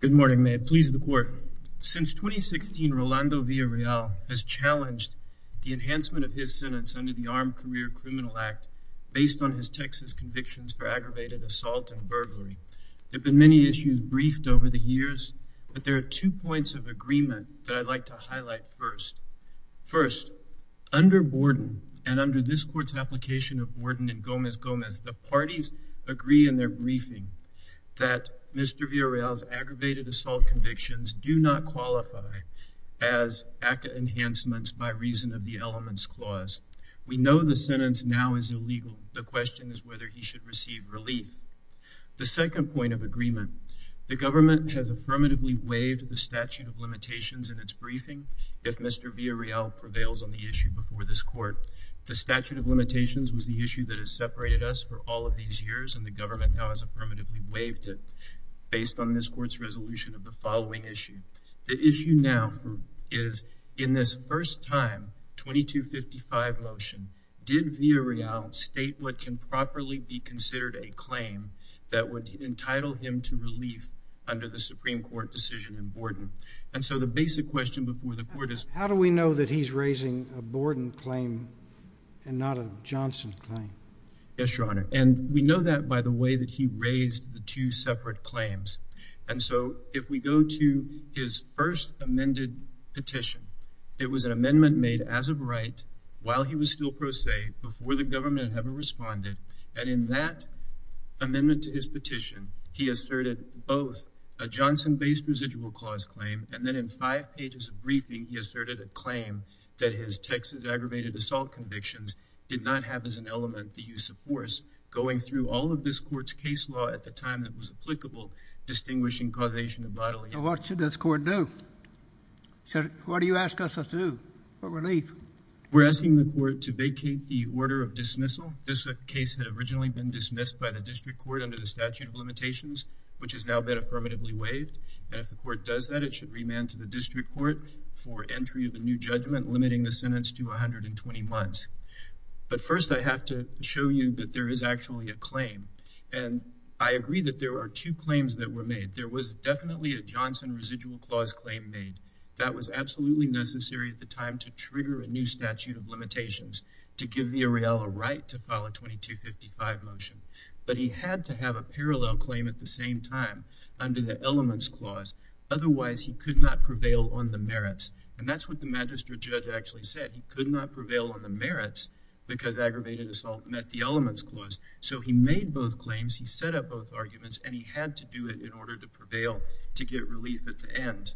Good morning, may it please the court. Since 2016, Rolando Villarreal has challenged the enhancement of his sentence under the Armed Career Criminal Act based on his Texas convictions for aggravated assault and burglary. There have been many issues briefed over the years, but there are two points of agreement that I'd like to highlight first. First, under Borden and under this court's application of Borden and Gomez-Gomez, the parties agree in their briefing that Mr. Villarreal's aggravated assault convictions do not qualify as ACCA enhancements by reason of the elements clause. We know the sentence now is illegal. The question is whether he should receive relief. The second point of agreement, the government has affirmatively waived the statute of limitations in its briefing if Mr. Villarreal prevails on the issue before this court. The statute of limitations was the issue that has separated us for all of these years, and the government now has affirmatively waived it based on this court's resolution of the following issue. The issue now is, in this first-time 2255 motion, did Villarreal state what can properly be considered a claim that would entitle him to relief under the Supreme Court decision in Borden? And so the basic question before the court is— How do we know that he's raising a Borden claim and not a Johnson claim? Yes, Your Honor. And we know that by the way that he raised the two separate claims. And so if we go to his first amended petition, it was an amendment made as of right while he was still pro se before the government ever responded. And in that amendment to his petition, he asserted both a Johnson-based residual clause claim, and then in five pages of briefing, he asserted a claim that his Texas going through all of this court's case law at the time that was applicable, distinguishing causation of bodily harm. What should this court do? What do you ask us to do for relief? We're asking the court to vacate the order of dismissal. This case had originally been dismissed by the district court under the statute of limitations, which has now been affirmatively waived. And if the court does that, it should remand to the district court for entry of a new judgment, limiting the sentence to 120 months. But first, I have to show you that there is actually a claim. And I agree that there are two claims that were made. There was definitely a Johnson residual clause claim made. That was absolutely necessary at the time to trigger a new statute of limitations to give the Ariela right to file a 2255 motion. But he had to have a parallel claim at the same time under the elements clause. Otherwise, he could not prevail on the merits. And that's what the magistrate actually said. He could not prevail on the merits because aggravated assault met the elements clause. So he made both claims. He set up both arguments and he had to do it in order to prevail to get relief at the end.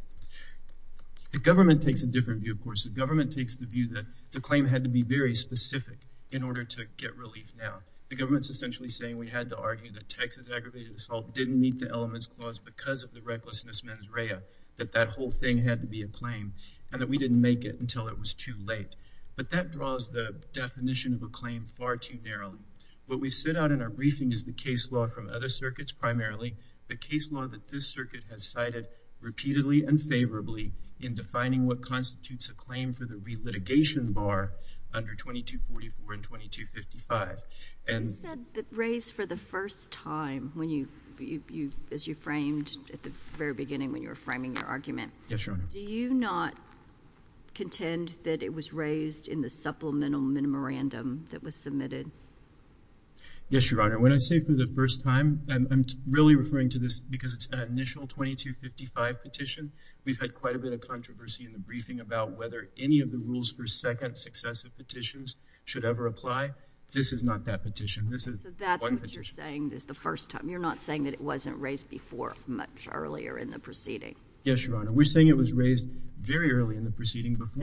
The government takes a different view, of course. The government takes the view that the claim had to be very specific in order to get relief. Now, the government's essentially saying we had to argue that Texas aggravated assault didn't meet the elements clause because of the recklessness mens rea, that that whole thing had to be a claim and that we didn't make it until it was too late. But that draws the definition of a claim far too narrowly. What we set out in our briefing is the case law from other circuits, primarily the case law that this circuit has cited repeatedly and favorably in defining what constitutes a claim for the re-litigation bar under 2244 and 2255. And you said that raised for the first time when you, as you framed at the very beginning, when you were framing your contend that it was raised in the supplemental memorandum that was submitted. Yes, Your Honor. When I say for the first time, I'm really referring to this because it's an initial 2255 petition. We've had quite a bit of controversy in the briefing about whether any of the rules for second successive petitions should ever apply. This is not that petition. This is what you're saying is the first time you're not saying that it wasn't raised before much earlier in the proceeding. Yes, Your Honor. Before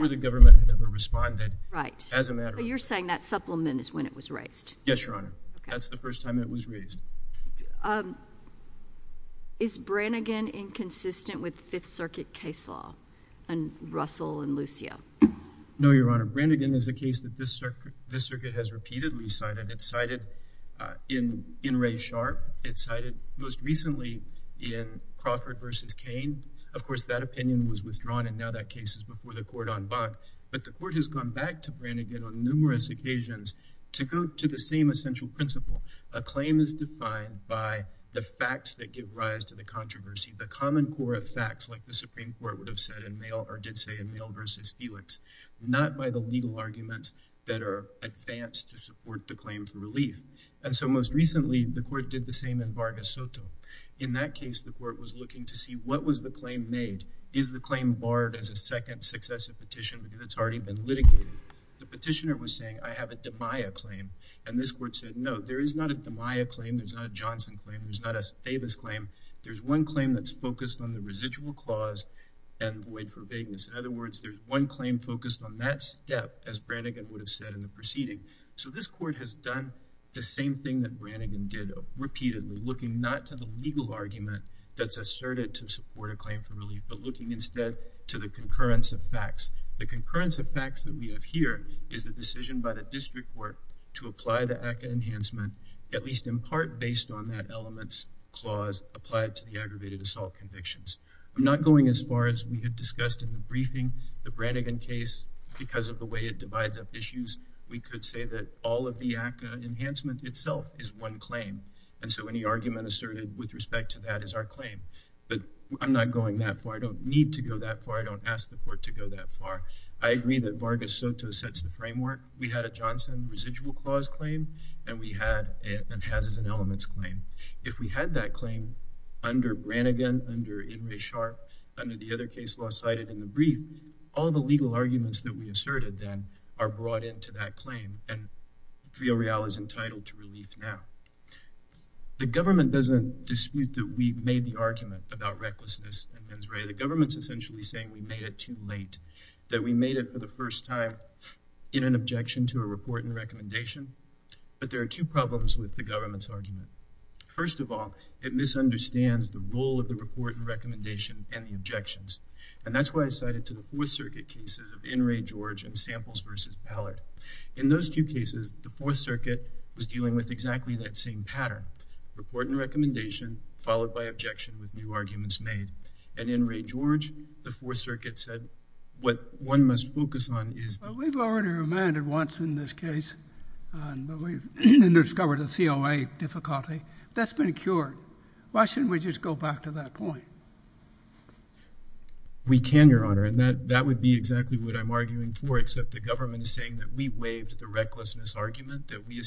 the government had ever responded. Right. As a matter of fact. So you're saying that supplement is when it was raised. Yes, Your Honor. That's the first time it was raised. Is Branigan inconsistent with Fifth Circuit case law and Russell and Lucio? No, Your Honor. Branigan is a case that this circuit has repeatedly cited. It's cited in Ray Sharp. It's cited most recently in Crawford versus Kane. Of course, that opinion was withdrawn and now that case is before the court on Bach. But the court has gone back to Branigan on numerous occasions to go to the same essential principle. A claim is defined by the facts that give rise to the controversy. The common core of facts like the Supreme Court would have said in mail or did say in mail versus Felix, not by the legal arguments that are advanced to support the claim for relief. And so most recently, the second successive petition, because it's already been litigated, the petitioner was saying, I have a Maya claim. And this court said, no, there is not a Maya claim. There's not a Johnson claim. There's not a famous claim. There's one claim that's focused on the residual clause and void for vagueness. In other words, there's one claim focused on that step, as Branigan would have said in the proceeding. So this court has done the same thing that we did with the concurrence of facts. The concurrence of facts that we have here is the decision by the district court to apply the ACCA enhancement, at least in part based on that element's clause applied to the aggravated assault convictions. I'm not going as far as we have discussed in the briefing, the Branigan case, because of the way it divides up issues, we could say that all of the ACCA enhancement itself is one claim. And so any argument asserted with respect to that is our claim. But I'm not going that far. I don't need to go that far. I don't ask the court to go that far. I agree that Vargas Soto sets the framework. We had a Johnson residual clause claim, and we had it and has as an elements claim. If we had that claim under Branigan, under Ingray-Sharpe, under the other case law cited in the brief, all the legal arguments that we asserted then are brought into that The government doesn't dispute that we made the argument about recklessness in Ingray. The government's essentially saying we made it too late, that we made it for the first time in an objection to a report and recommendation. But there are two problems with the government's argument. First of all, it misunderstands the role of the report and recommendation and the objections. And that's why I cited to the Fourth Circuit cases of Ingray-George and report and recommendation, followed by objection with new arguments made. And Ingray-George, the Fourth Circuit said, what one must focus on is We've already remanded once in this case, and we discovered a COA difficulty. That's been cured. Why shouldn't we just go back to that point? We can, Your Honor. And that would be exactly what I'm arguing for, except the government is saying that we waived the recklessness argument, that we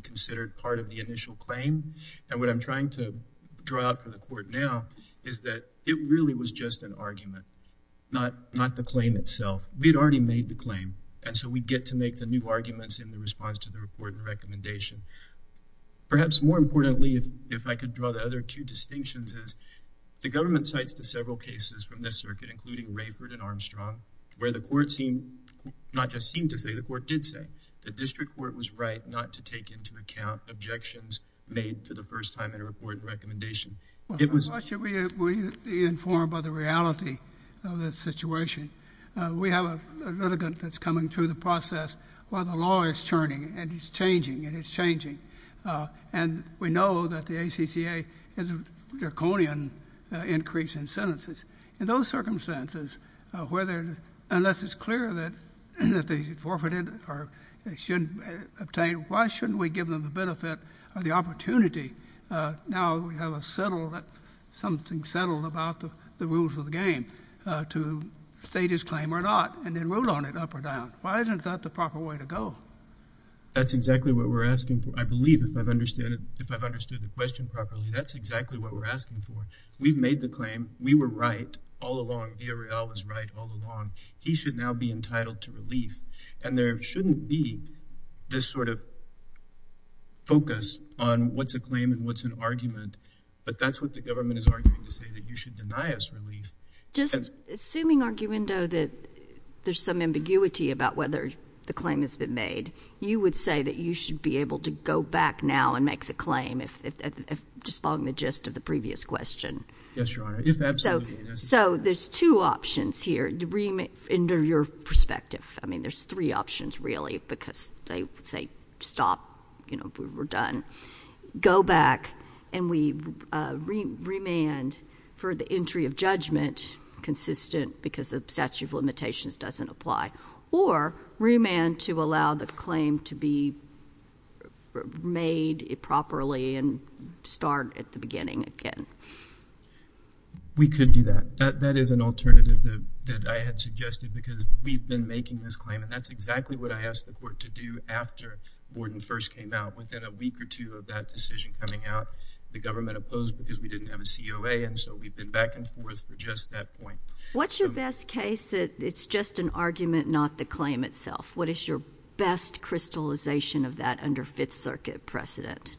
considered part of the initial claim. And what I'm trying to draw out for the court now is that it really was just an argument, not the claim itself. We'd already made the claim. And so we get to make the new arguments in the response to the report and recommendation. Perhaps more importantly, if I could draw the other two distinctions is the government cites to several cases from this circuit, including Rayford and Armstrong, where the court seemed not to say, the court did say, the district court was right not to take into account objections made for the first time in a report and recommendation. Why should we be informed by the reality of this situation? We have a litigant that's coming through the process while the law is churning, and it's either forfeited or it shouldn't be obtained. Why shouldn't we give them the benefit or the opportunity? Now we have something settled about the rules of the game, to state his claim or not, and then rule on it up or down. Why isn't that the proper way to go? That's exactly what we're asking for. I believe, if I've understood the question properly, that's exactly what we're asking for. We've made the claim. We were right all along. D'Ariel was right all along. He should now be entitled to relief. And there shouldn't be this sort of focus on what's a claim and what's an argument. But that's what the government is arguing to say, that you should deny us relief. Just assuming, Argumendo, that there's some ambiguity about whether the claim has been made, you would say that you should be able to go back now and make the claim, just following the gist of the previous question? Yes, Your Honor. If absolutely necessary. So there's two options here, in your perspective. I mean, there's three options, really, because they say, stop, we're done. Go back and we remand for the entry of judgment, consistent because the statute of limitations doesn't apply, or remand to allow the claim to be made properly and start at the beginning again. We could do that. That is an alternative that I had suggested, because we've been making this claim, and that's exactly what I asked the court to do after Borden first came out. Within a week or two of that decision coming out, the government opposed because we didn't have a COA, and so we've been back and forth for just that point. What's your best case that it's just an argument, not the claim itself? What is your best crystallization of that under Fifth Circuit precedent?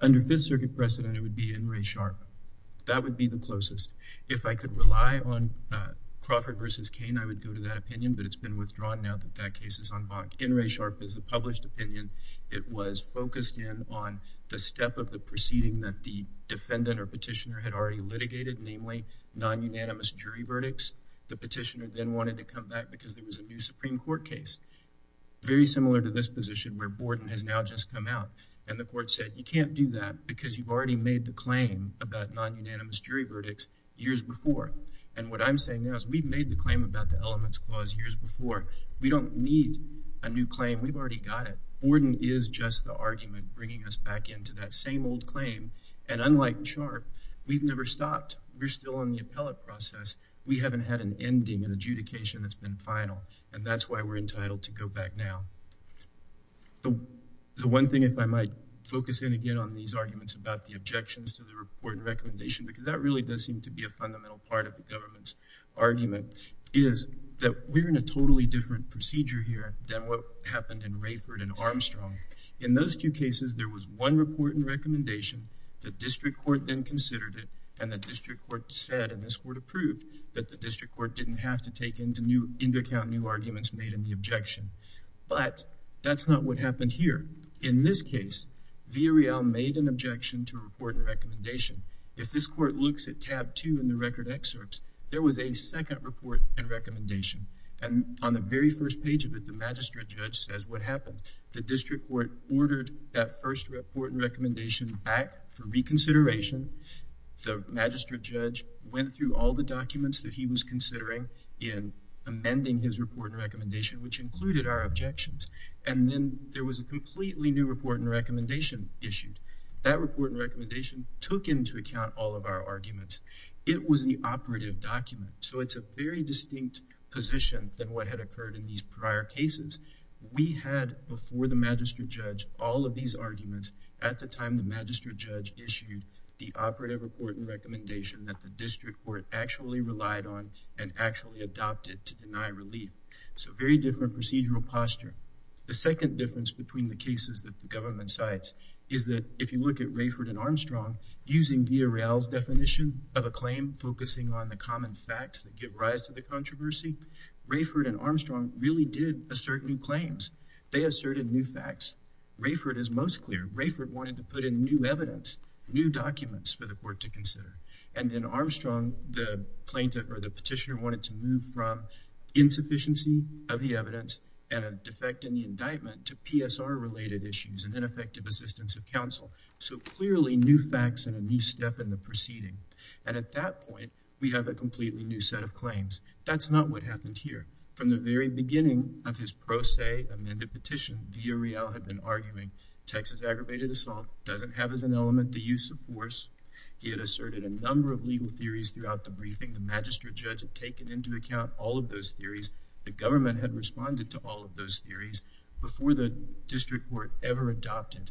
Under Fifth Circuit precedent, it would be In re Sharpe. That would be the closest. If I could rely on Crawford v. Cain, I would go to that opinion, but it's been withdrawn now that that case is en banc. In re Sharpe is the published opinion. It was focused in on the step of the proceeding that the defendant or petitioner had already litigated, namely non-unanimous jury verdicts. The petitioner then wanted to come back because there was a new Supreme Court case, very similar to this position where Borden has now just come out, and the court said, you can't do that because you've already made the claim about non-unanimous jury verdicts years before. What I'm saying now is we've made the claim about the Elements Clause years before. We don't need a new claim. We've already got it. Borden is just the argument bringing us back into that same old claim. And unlike Sharpe, we've never stopped. We're still on the appellate process. We haven't had an ending, an adjudication that's been final, and that's why we're entitled to go back now. The one thing, if I might focus in again on these arguments about the objections to the report and recommendation, because that really does seem to be a fundamental part of the government's argument, is that we're in a totally different procedure here than what happened in Rayford and Armstrong. In those two cases, there was one report and recommendation. The district court then considered it, and the district court said, and this court approved, that the district court didn't have to take into account new arguments made in the objection. But that's not what happened here. In this case, Villareal made an objection to a report and recommendation. If this court looks at tab two in the record excerpts, there was a second report and recommendation. And on the very first page of it, the magistrate judge says, what happened? The district court ordered that first report and recommendation back for reconsideration. The magistrate judge went through all the documents that he was considering in amending his report and recommendation, which included our objections. And then there was a completely new report and recommendation issued. That report and recommendation took into account all of our arguments. It was the operative document, so it's a very distinct position than what had occurred in these prior cases. We had, before the magistrate judge, all of these arguments. At the time, the magistrate judge issued the operative report and recommendation that the district court actually relied on and actually adopted to deny relief. So very different procedural posture. The second difference between the cases that the government cites is that if you look at Rayford and Armstrong, using Villareal's definition of a claim focusing on the common facts that give rise to the controversy, Rayford and Armstrong really did assert new claims. They asserted new facts. Rayford is most clear. Rayford wanted to put in new evidence, new documents for the court to consider. And then Armstrong, the plaintiff or the petitioner, wanted to move from insufficiency of the evidence and a defect in the indictment to PSR-related issues and ineffective assistance of counsel. So clearly, new facts and a new step in the proceeding. And at that point, we have a completely new set of claims. That's not what happened here. From the very beginning of his pro se amended petition, Villareal had been arguing Texas aggravated assault doesn't have as an element the use of force. He had asserted a number of legal theories throughout the briefing. The magistrate judge had taken into account all of those theories. The government had responded to all of those theories before the district court ever adopted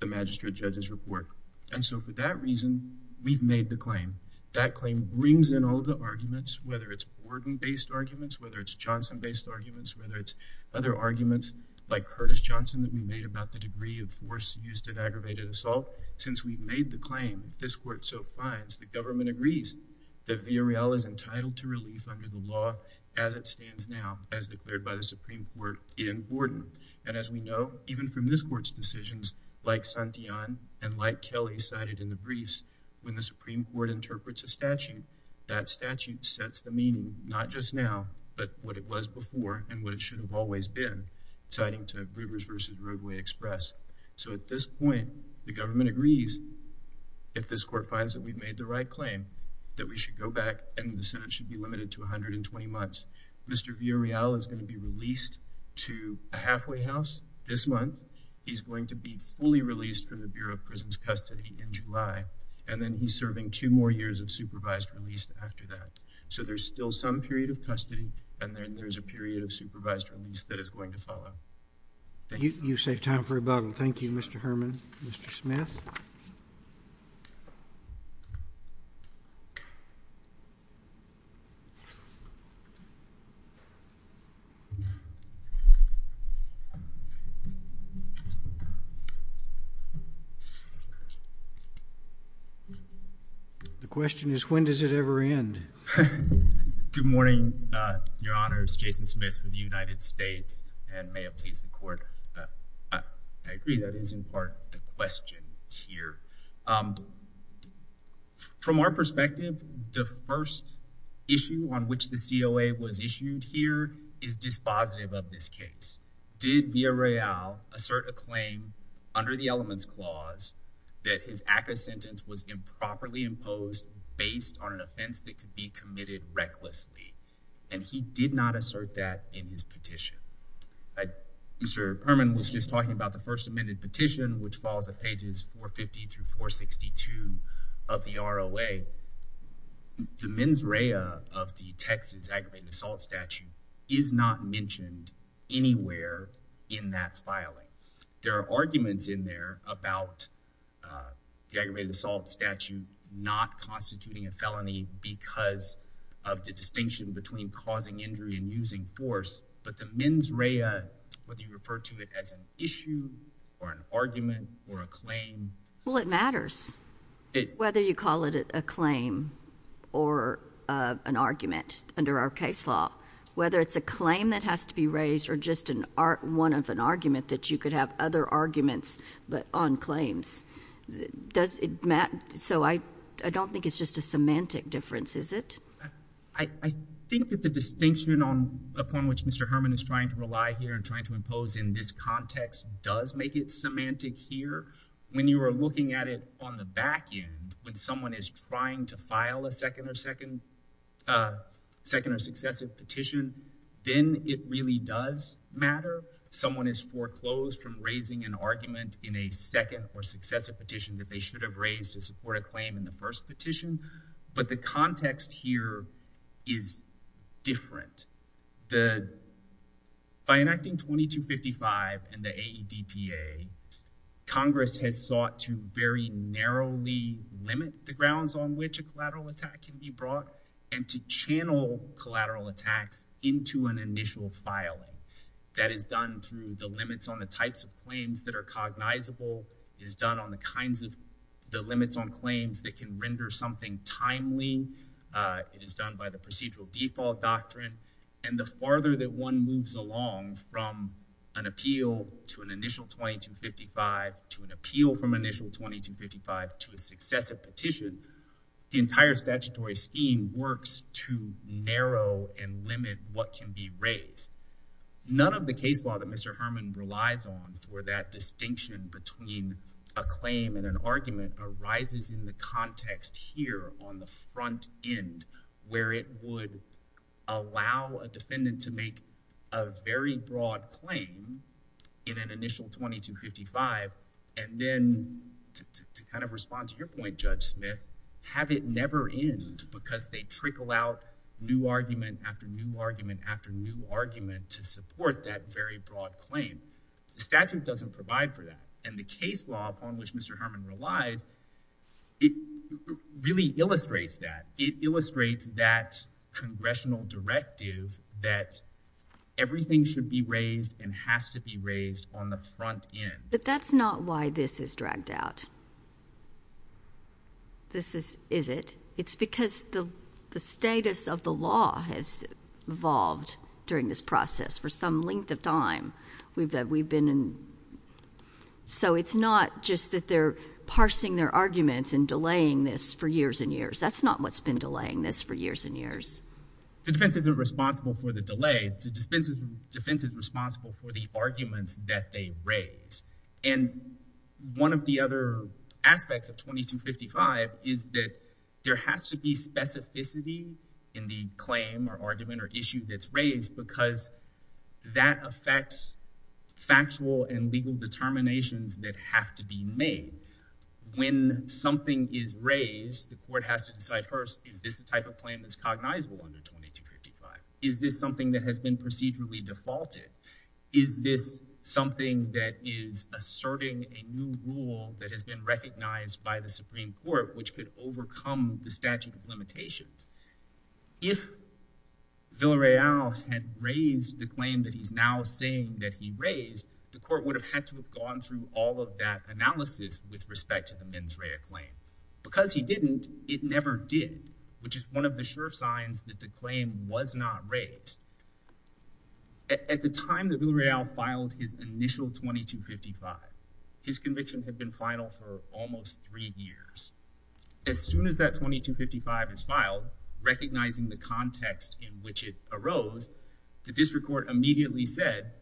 the magistrate judge's report. And so for that reason, we've made the claim. That claim brings in all of the arguments, whether it's Borden-based arguments, whether it's Johnson-based arguments, whether it's other arguments like Curtis Johnson that we made about the degree of force used in aggravated assault. Since we made the claim, this court so finds, the government agrees that Villareal is entitled to relief under the law as it stands now as declared by the Supreme Court in Borden. And as we know, even from this court's decisions, like Santillan and like Kelly cited in the briefs, when the Supreme Court interprets a statute, that statute sets the meaning, not just now, but what it was before and what it should have always been, citing to Rivers v. Roadway Express. So at this point, the government agrees, if this court finds that we've made the right claim, that we should go back and the Senate should be limited to 120 months. Mr. Villareal is going to be released to a halfway house this month. He's going to be fully released from the Bureau of Prisons Custody in July. And then he's serving two more years of supervised release after that. So there's still some period of custody. And then there's a period of supervised release that is going to follow. You saved time for rebuttal. Thank you, Mr. Herman. Mr. Smith? The question is, when does it ever end? Good morning, Your Honors. Jason Smith with the United States and may it please the Court. I agree that is, in part, the question here. From our perspective, the first issue on which the COA was issued here is dispositive of this case. Did Villareal assert a claim under the elements clause that his ACCA sentence was improperly imposed based on an offense that could be committed recklessly? And he did not assert that in his petition. Mr. Herman was just talking about the first amended petition, which falls at pages 450 through 462 of the ROA. The mens rea of the Texas aggravated assault statute is not mentioned anywhere in that filing. There are arguments in there about the aggravated assault statute not constituting a felony because of the distinction between causing injury and using force. But the mens rea, whether you refer to it as an issue or an argument or a claim— Well, it matters, whether you call it a claim or an argument under our case law. Whether it's a claim that has to be raised or just one of an argument that you could have other arguments on claims, does it matter? So I don't think it's just a semantic difference, is it? I think that the distinction upon which Mr. Herman is trying to rely here and trying to impose in this context does make it semantic here. When you are looking at it on the back end, when someone is trying to file a second or successive petition, then it really does matter. Someone has foreclosed from raising an argument in a second or successive petition that they should have raised to support a claim in the first petition. But the context here is different. By enacting 2255 and the AEDPA, Congress has sought to very narrowly limit the grounds on which a collateral attack can be brought and to channel collateral attacks into an initial filing. That is done through the limits on the types of claims that are cognizable. It is done on the kinds of—the limits on claims that can render something timely. It is done by the procedural default doctrine. And the farther that one moves along from an appeal to an initial 2255 to an appeal from an initial 2255 to a successive petition, the entire statutory scheme works to narrow and limit what can be raised. None of the case law that Mr. Herman relies on for that distinction between a claim and an argument arises in the context here on the front end where it would allow a defendant to make a very broad claim in an initial 2255. And then to kind of respond to your point, Judge Smith, have it never end because they trickle out new argument after new argument after new argument to support that very broad claim. The statute doesn't provide for that. And the case law upon which Mr. Herman relies, it really illustrates that. It illustrates that congressional directive that everything should be raised and has to be raised on the front end. But that's not why this is dragged out, is it? It's because the status of the law has evolved during this process for some length of time. We've been in—so it's not just that they're parsing their arguments and delaying this for years and years. That's not what's been delaying this for years and years. The defense is responsible for the delay. The defense is responsible for the arguments that they raise. And one of the other aspects of 2255 is that there has to be specificity in the claim or argument or issue that's raised because that affects factual and legal determinations that have to be made. When something is raised, the court has to decide first, is this a type of claim that's cognizable under 2255? Is this something that has been procedurally defaulted? Is this something that is asserting a new rule that has been recognized by the Supreme Court which could overcome the statute of limitations? If Villareal had raised the claim that he's now saying that he raised, the court would have had to have gone through all of that analysis with respect to the mens rea claim. Because he didn't, it never did, which is one of the sure signs that the claim was not raised. At the time that Villareal filed his initial 2255, his conviction had been final for almost three years. As soon as that 2255 is filed, recognizing the context in which it arose, the district court immediately said,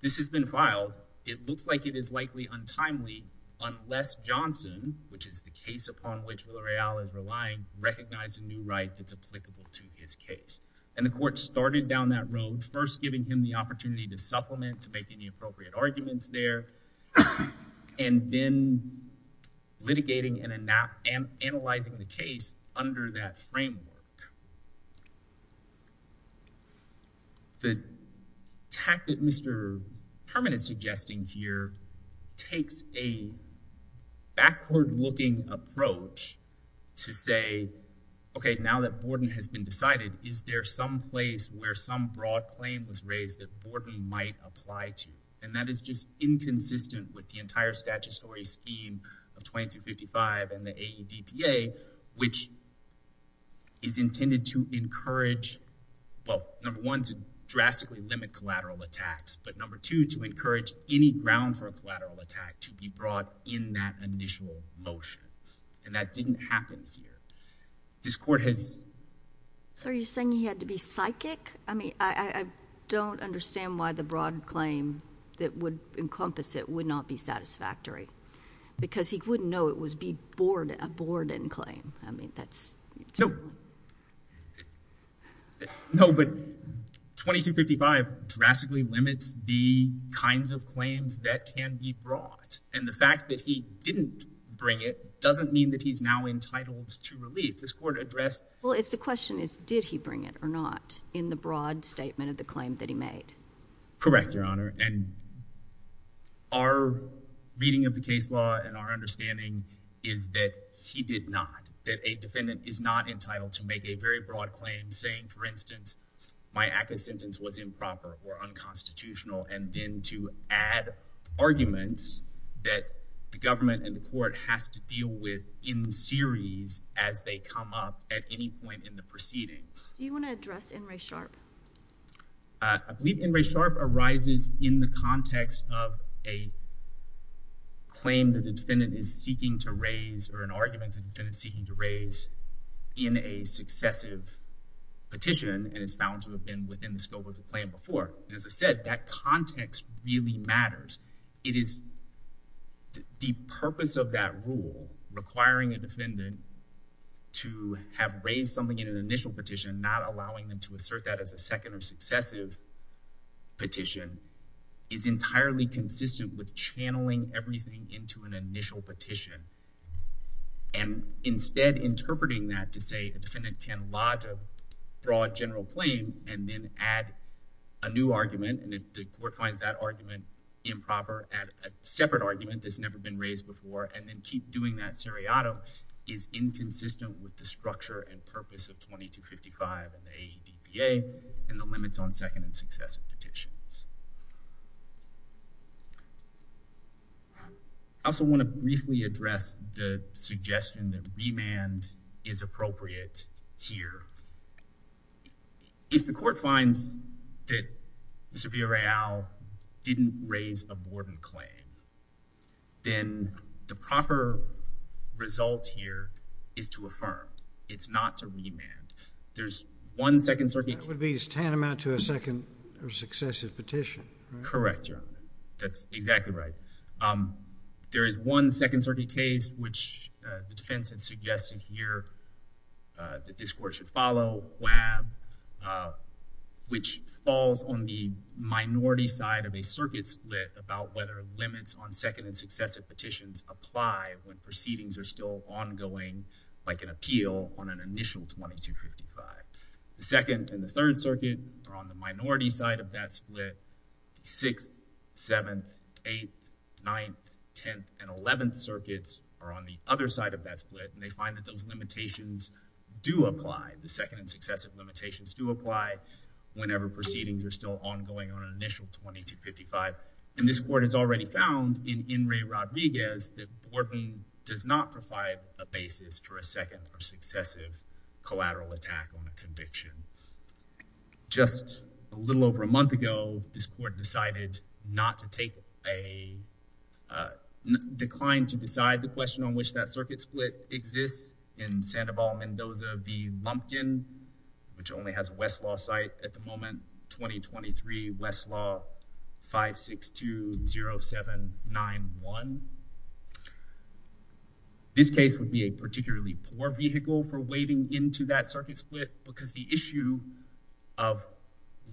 this has been filed. It looks like it is likely untimely unless Johnson, which is the case upon which Villareal is relying, recognize a new right that's applicable to his case. And the court started down that road, first giving him the opportunity to supplement, to make any appropriate arguments there, and then litigating and analyzing the case under that framework. The tact that Mr. Herman is suggesting here takes a backward-looking approach to say, okay, now that Borden has been decided, is there some place where some broad claim was raised that Borden might apply to? And that is just inconsistent with the entire statutory scheme of 2255 and the AEDPA, which is intended to encourage, well, number one, to drastically limit collateral attacks, but number two, to encourage any ground for a collateral attack to be brought in that initial motion. And that didn't happen here. This court has— I don't understand why the broad claim that would encompass it would not be satisfactory, because he wouldn't know it was a Borden claim. I mean, that's— No. No, but 2255 drastically limits the kinds of claims that can be brought, and the fact that he didn't bring it doesn't mean that he's now entitled to relief. Well, the question is, did he bring it or not in the broad statement of the claim that he made? And our reading of the case law and our understanding is that he did not, that a defendant is not entitled to make a very broad claim, saying, for instance, my ACCA sentence was improper or unconstitutional, and then to add arguments that the government and the court has to deal with in series as they come up at any point in the proceeding. Do you want to address N. Ray Sharp? I believe N. Ray Sharp arises in the context of a claim that the defendant is seeking to raise or an argument the defendant is seeking to raise in a successive petition and is found to have been within the scope of the claim before. As I said, that context really matters. It is the purpose of that rule, requiring a defendant to have raised something in an initial petition, not allowing them to assert that as a second or successive petition, is entirely consistent with channeling everything into an initial petition. And instead, interpreting that to say a defendant can lodge a broad general claim and then add a new argument, and if the court finds that argument improper, add a separate argument that's never been raised before, and then keep doing that seriato is inconsistent with the structure and purpose of 2255 and the AEDPA and the limits on second and successive petitions. I also want to briefly address the suggestion that remand is appropriate here. If the court finds that Mr. Villarreal didn't raise a broad claim, then the proper result here is to affirm. It's not to remand. That would be tantamount to a second or successive petition, right? Correct, Your Honor. That's exactly right. There is one Second Circuit case which the defense has suggested here that this court should follow, WAB, which falls on the minority side of a circuit split about whether limits on second and successive petitions apply when proceedings are still ongoing, like an appeal on an initial 2255. The Second and the Third Circuit are on the minority side of that split. Sixth, Seventh, Eighth, Ninth, Tenth, and Eleventh Circuits are on the other side of that split, and they find that those limitations do apply. The second and successive limitations do apply whenever proceedings are still ongoing on an initial 2255. And this court has already found in Enri Rodriguez that Borden does not provide a basis for a second or successive collateral attack on a conviction. Just a little over a month ago, this court decided not to take a decline to decide the question on which that circuit split exists in Sandoval Mendoza v. Lumpkin, which only has a Westlaw site at the moment, 2023 Westlaw 5620791. This case would be a particularly poor vehicle for wading into that circuit split because the issue of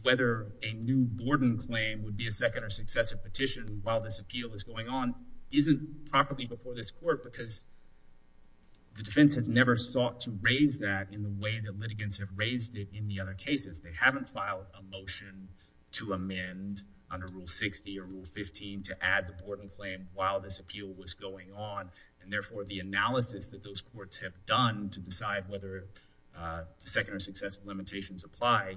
whether a new Borden claim would be a second or successive petition while this appeal is going on isn't properly before this court because the defense has never sought to raise that in the way that litigants have raised it in the other cases. They haven't filed a motion to amend under Rule 60 or Rule 15 to add the Borden claim while this appeal was going on, and therefore the analysis that those courts have done to decide whether the second or successive limitations apply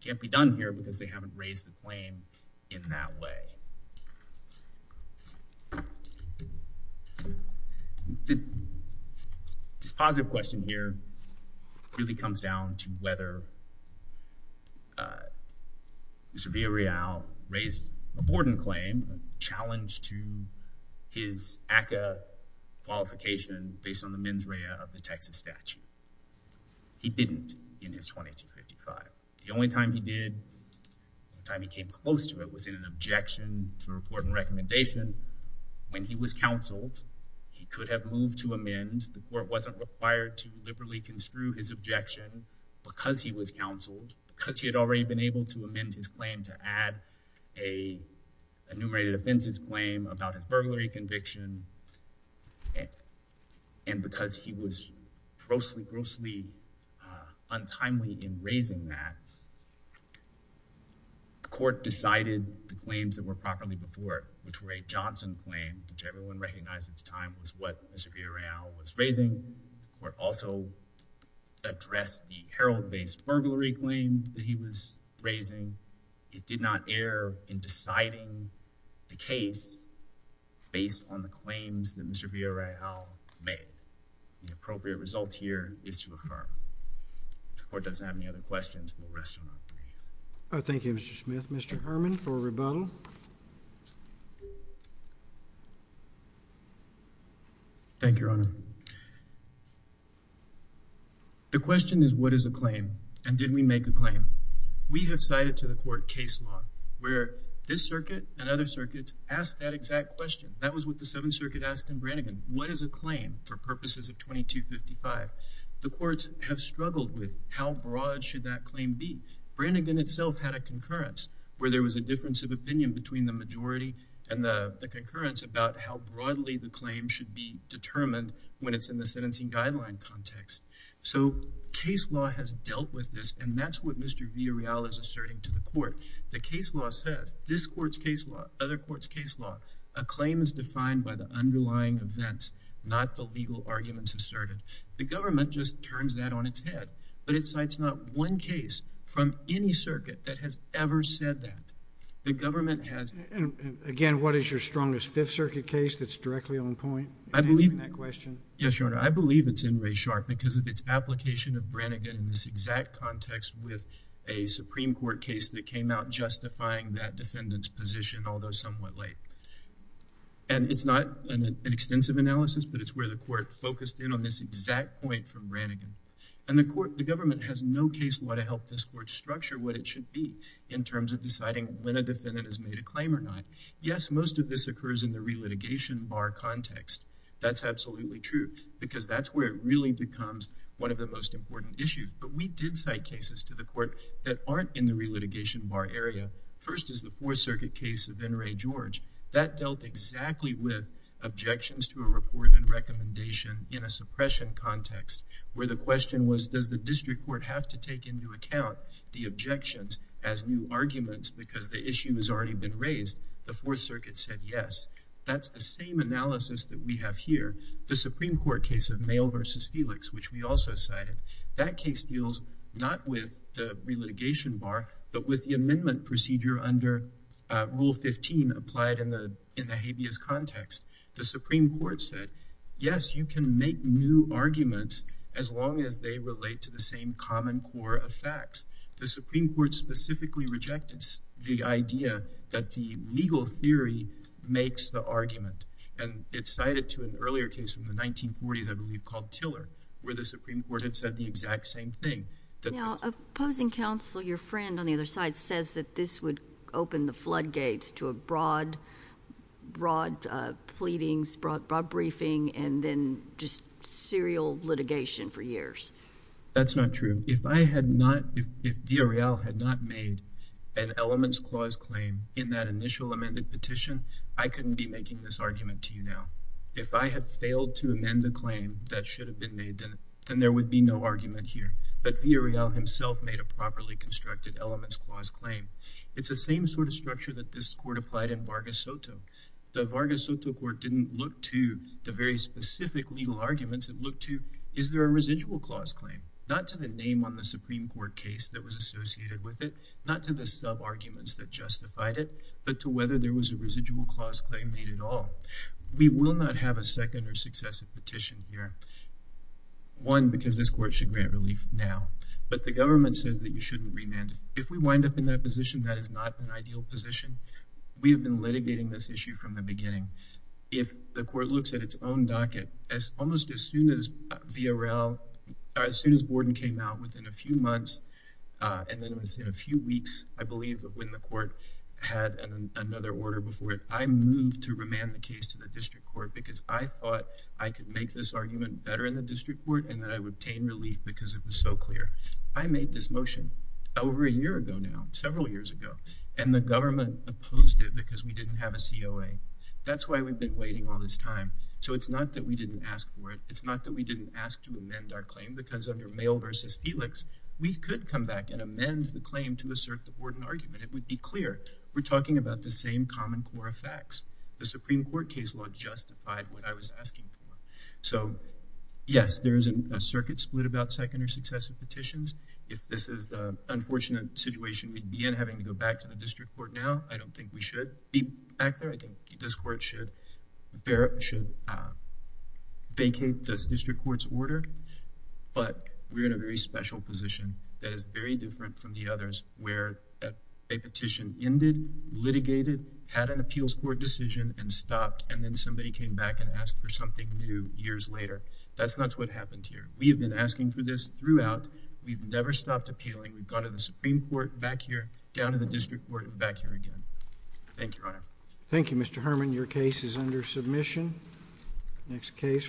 can't be done here because they haven't raised the claim in that way. This positive question here really comes down to whether Mr. Villarreal raised a Borden claim challenged to his ACCA qualification based on the mens rea of the Texas statute. He didn't in his 2255. The only time he did, the time he came close to it, was in an objection to a Borden recommendation. When he was counseled, he could have moved to amend. The court wasn't required to liberally construe his objection because he was counseled, because he had already been able to amend his claim to add a enumerated offenses claim about his burglary conviction, and because he was grossly, grossly untimely in raising that. The court decided the claims that were properly before it, which were a Johnson claim, which everyone recognized at the time was what Mr. Villarreal was raising. The court also addressed the Herald-based burglary claim that he was raising. It did not err in deciding the case based on the claims that Mr. Villarreal made. The appropriate result here is to affirm. The court doesn't have any other questions. We'll rest them up. Thank you, Mr. Smith. Mr. Herman for rebuttal. Thank you, Your Honor. The question is, what is a claim, and did we make a claim? We have cited to the court case law where this circuit and other circuits asked that exact question. That was what the Seventh Circuit asked in Branigan. What is a claim for purposes of 2255? The courts have struggled with how broad should that claim be. Branigan itself had a concurrence where there was a difference of opinion between the majority and the concurrence about how broadly the claim should be determined when it's in the sentencing guideline context. So, case law has dealt with this, and that's what Mr. Villarreal is asserting to the court. The case law says, this court's case law, other court's case law, a claim is defined by the underlying events, not the legal arguments asserted. The government just turns that on its head, but it cites not one case from any circuit that has ever said that. The government has. Again, what is your strongest Fifth Circuit case that's directly on point in answering that question? Yes, Your Honor. I believe it's in Ray Sharp because of its application of Branigan in this exact context with a Supreme Court case that came out justifying that defendant's position, although somewhat late. And it's not an extensive analysis, but it's where the court focused in on this exact point from Branigan. And the government has no case law to help this court structure what it should be in terms of deciding when a defendant has made a claim or not. Yes, most of this occurs in the relitigation bar context. That's absolutely true because that's where it really becomes one of the most important issues. But we did cite cases to the court that aren't in the relitigation bar area. First is the Fourth Circuit case of N. Ray George. That dealt exactly with objections to a report and recommendation in a suppression context where the question was, does the district court have to take into account the objections as new arguments because the issue has already been raised? The Fourth Circuit said yes. That's the same analysis that we have here. The Supreme Court case of Mayall v. Felix, which we also cited, that case deals not with the relitigation bar, but with the amendment procedure under Rule 15 applied in the habeas context. The Supreme Court said, yes, you can make new arguments as long as they relate to the same common core of facts. The Supreme Court specifically rejected the idea that the legal theory makes the argument. And it cited to an earlier case from the 1940s, I believe, called Tiller, where the Supreme Court had said the exact same thing. Now, opposing counsel, your friend on the other side, says that this would open the floodgates to a broad pleadings, broad briefing, and then just serial litigation for years. That's not true. If I had not, if Villarreal had not made an elements clause claim in that initial amended petition, I couldn't be making this argument to you now. If I had failed to amend the claim that should have been made, then there would be no argument here. But Villarreal himself made a properly constructed elements clause claim. It's the same sort of structure that this court applied in Vargas Soto. The Vargas Soto court didn't look to the very specific legal arguments. It looked to, is there a residual clause claim? Not to the name on the Supreme Court case that was associated with it. Not to the sub-arguments that justified it. But to whether there was a residual clause claim made at all. We will not have a second or successive petition here. One, because this court should grant relief now. But the government says that you shouldn't remand. If we wind up in that position, that is not an ideal position. We have been litigating this issue from the beginning. If the court looks at its own docket, almost as soon as Villarreal, as soon as Borden came out within a few months, and then within a few weeks, I believe, of when the court had another order before it, I moved to remand the case to the district court because I thought I could make this argument better in the district court and that I would obtain relief because it was so clear. I made this motion over a year ago now, several years ago. And the government opposed it because we didn't have a COA. That's why we've been waiting all this time. So it's not that we didn't ask for it. It's not that we didn't ask to amend our claim because under Mayo versus Felix, we could come back and amend the claim to assert the Borden argument. It would be clear. We're talking about the same common core of facts. The Supreme Court case law justified what I was asking for. So, yes, there is a circuit split about second or successive petitions. If this is the unfortunate situation we'd be in, having to go back to the district court now, I don't think we should be back there. I think this court should vacate this district court's order. But we're in a very special position that is very different from the others where a petition ended, litigated, had an appeals court decision, and stopped, and then somebody came back and asked for something new years later. That's not what happened here. We have been asking for this throughout. We've never stopped appealing. We've gone to the Supreme Court, back here, down to the district court, and back here again. Thank you, Your Honor. Thank you, Mr. Herman. Your case is under submission. Next case.